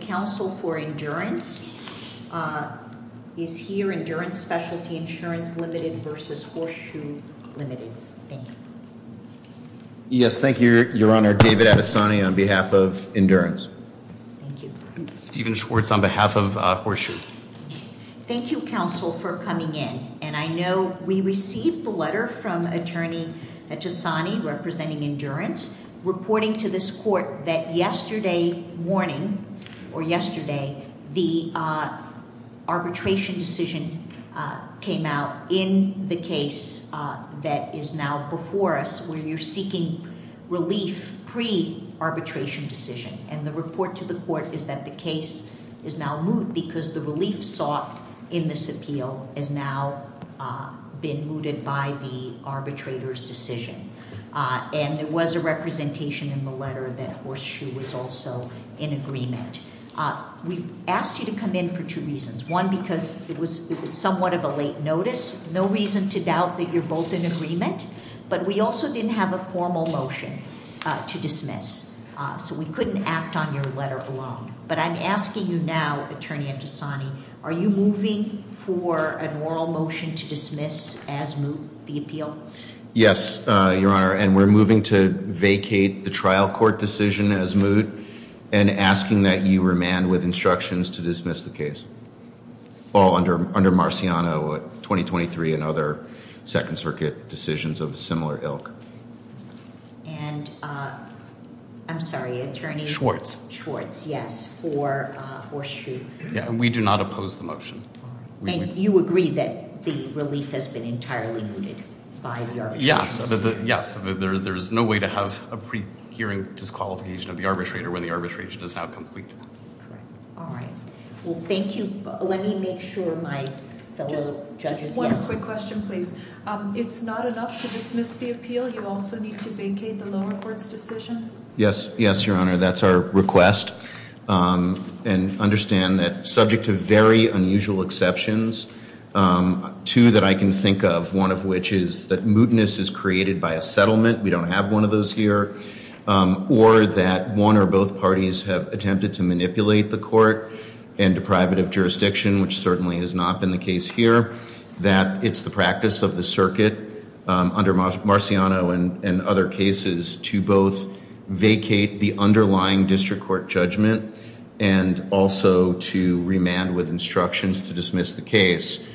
Council for Endurance is here. Endurance Specialty Insurance Limited v. Horseshoe Limited. Yes, thank you, Your Honor. David Attasani on behalf of Endurance. Stephen Schwartz on behalf of Horseshoe. Thank you, counsel, for coming in and I know we received the letter from Attorney Attasani representing Endurance reporting to this court that yesterday morning or yesterday the arbitration decision came out in the case that is now before us where you're seeking relief pre-arbitration decision and the report to the court is that the case is now moot because the relief sought in this appeal has now been mooted by the representation in the letter that Horseshoe was also in agreement. We've asked you to come in for two reasons. One, because it was it was somewhat of a late notice. No reason to doubt that you're both in agreement, but we also didn't have a formal motion to dismiss so we couldn't act on your letter alone. But I'm asking you now, Attorney Attasani, are you moving for an oral motion to dismiss as moot the appeal? Yes, Your Honor, and we're moving to vacate the trial court decision as moot and asking that you remand with instructions to dismiss the case. All under Marciano, 2023 and other Second Circuit decisions of similar ilk. And, I'm sorry, Attorney Schwartz. Schwartz, yes, for Horseshoe. Yeah, we do not oppose the motion. And you agree that the there's no way to have a pre-hearing disqualification of the arbitrator when the arbitration is now complete. All right. Well, thank you. Let me make sure my fellow judges... Just one quick question, please. It's not enough to dismiss the appeal? You also need to vacate the lower court's decision? Yes, yes, Your Honor. That's our request. And understand that subject to very unusual exceptions, two that I can think of, one of which is that mootness is that we don't have one of those here, or that one or both parties have attempted to manipulate the court and deprive it of jurisdiction, which certainly has not been the case here. That it's the practice of the circuit under Marciano and other cases to both vacate the underlying district court judgment and also to remand with instructions to dismiss the case.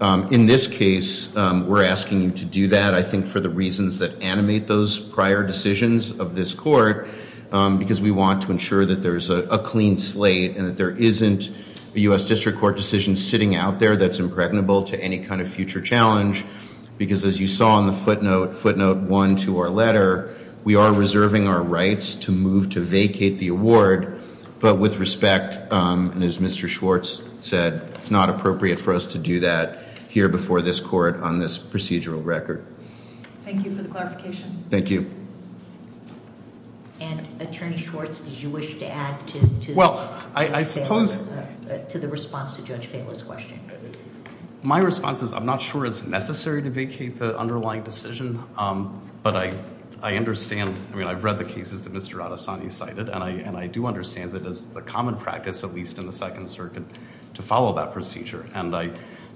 In this case, we're asking you to do that, I think, for the reasons that animate those prior decisions of this court, because we want to ensure that there's a clean slate and that there isn't a U.S. District Court decision sitting out there that's impregnable to any kind of future challenge. Because as you saw on the footnote, footnote one to our letter, we are reserving our rights to move to vacate the award, but with respect, and as Mr. Schwartz said, it's not appropriate for us to do that here before this court on this procedural record. Thank you for the clarification. Thank you. And Attorney Schwartz, did you wish to add to... Well, I suppose... to the response to Judge Falo's question. My response is I'm not sure it's necessary to vacate the underlying decision, but I understand, I mean, I've read the cases that Mr. Adesany cited, and I do understand that is the common practice, at least in the Second Circuit, to follow that procedure. And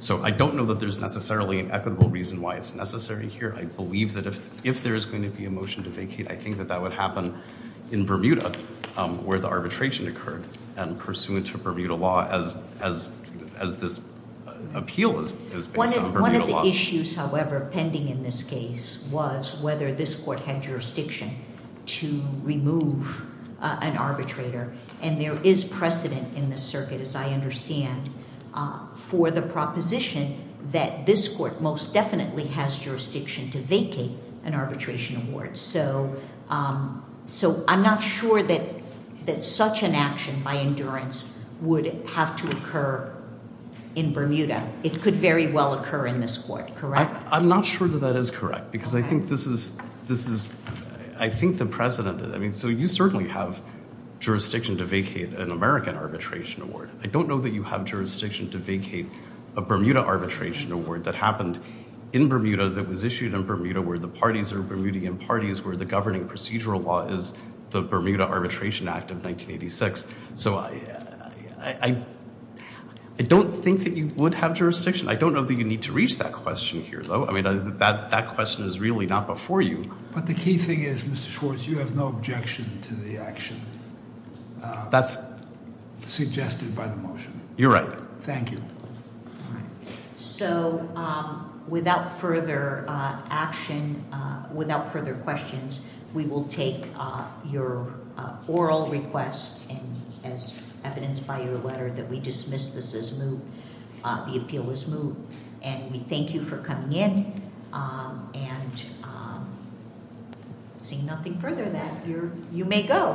so I don't know that there's necessarily an equitable reason why it's necessary here. I believe that if there is going to be a motion to vacate, I think that that would happen in Bermuda, where the arbitration occurred, and pursuant to Bermuda law, as this appeal is based on Bermuda law. One of the issues, however, pending in this case was whether this court had jurisdiction to remove an arbitrator, and there is precedent in the circuit, as I understand, for the proposition that this court most definitely has jurisdiction to vacate an arbitration award. So I'm not sure that such an action by endurance would have to occur in Bermuda. It could very well occur in this court, correct? I'm not sure that that is correct, because I think this is... I think the precedent... I mean, so you certainly have an American arbitration award. I don't know that you have jurisdiction to vacate a Bermuda arbitration award that happened in Bermuda, that was issued in Bermuda, where the parties are Bermudian parties, where the governing procedural law is the Bermuda Arbitration Act of 1986. So I don't think that you would have jurisdiction. I don't know that you need to reach that question here, though. I mean, that question is really not before you. But the key thing is, Mr. That's... You're right. Thank you. So without further action, without further questions, we will take your oral request, and as evidenced by your letter, that we dismiss this as moot, the appeal is moot. And we thank you for coming in, and seeing nothing further than that, you may go.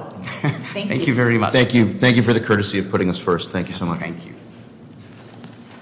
Thank you very much. Thank you. Thank you for the courtesy of putting us first. Thank you so much. Thank you.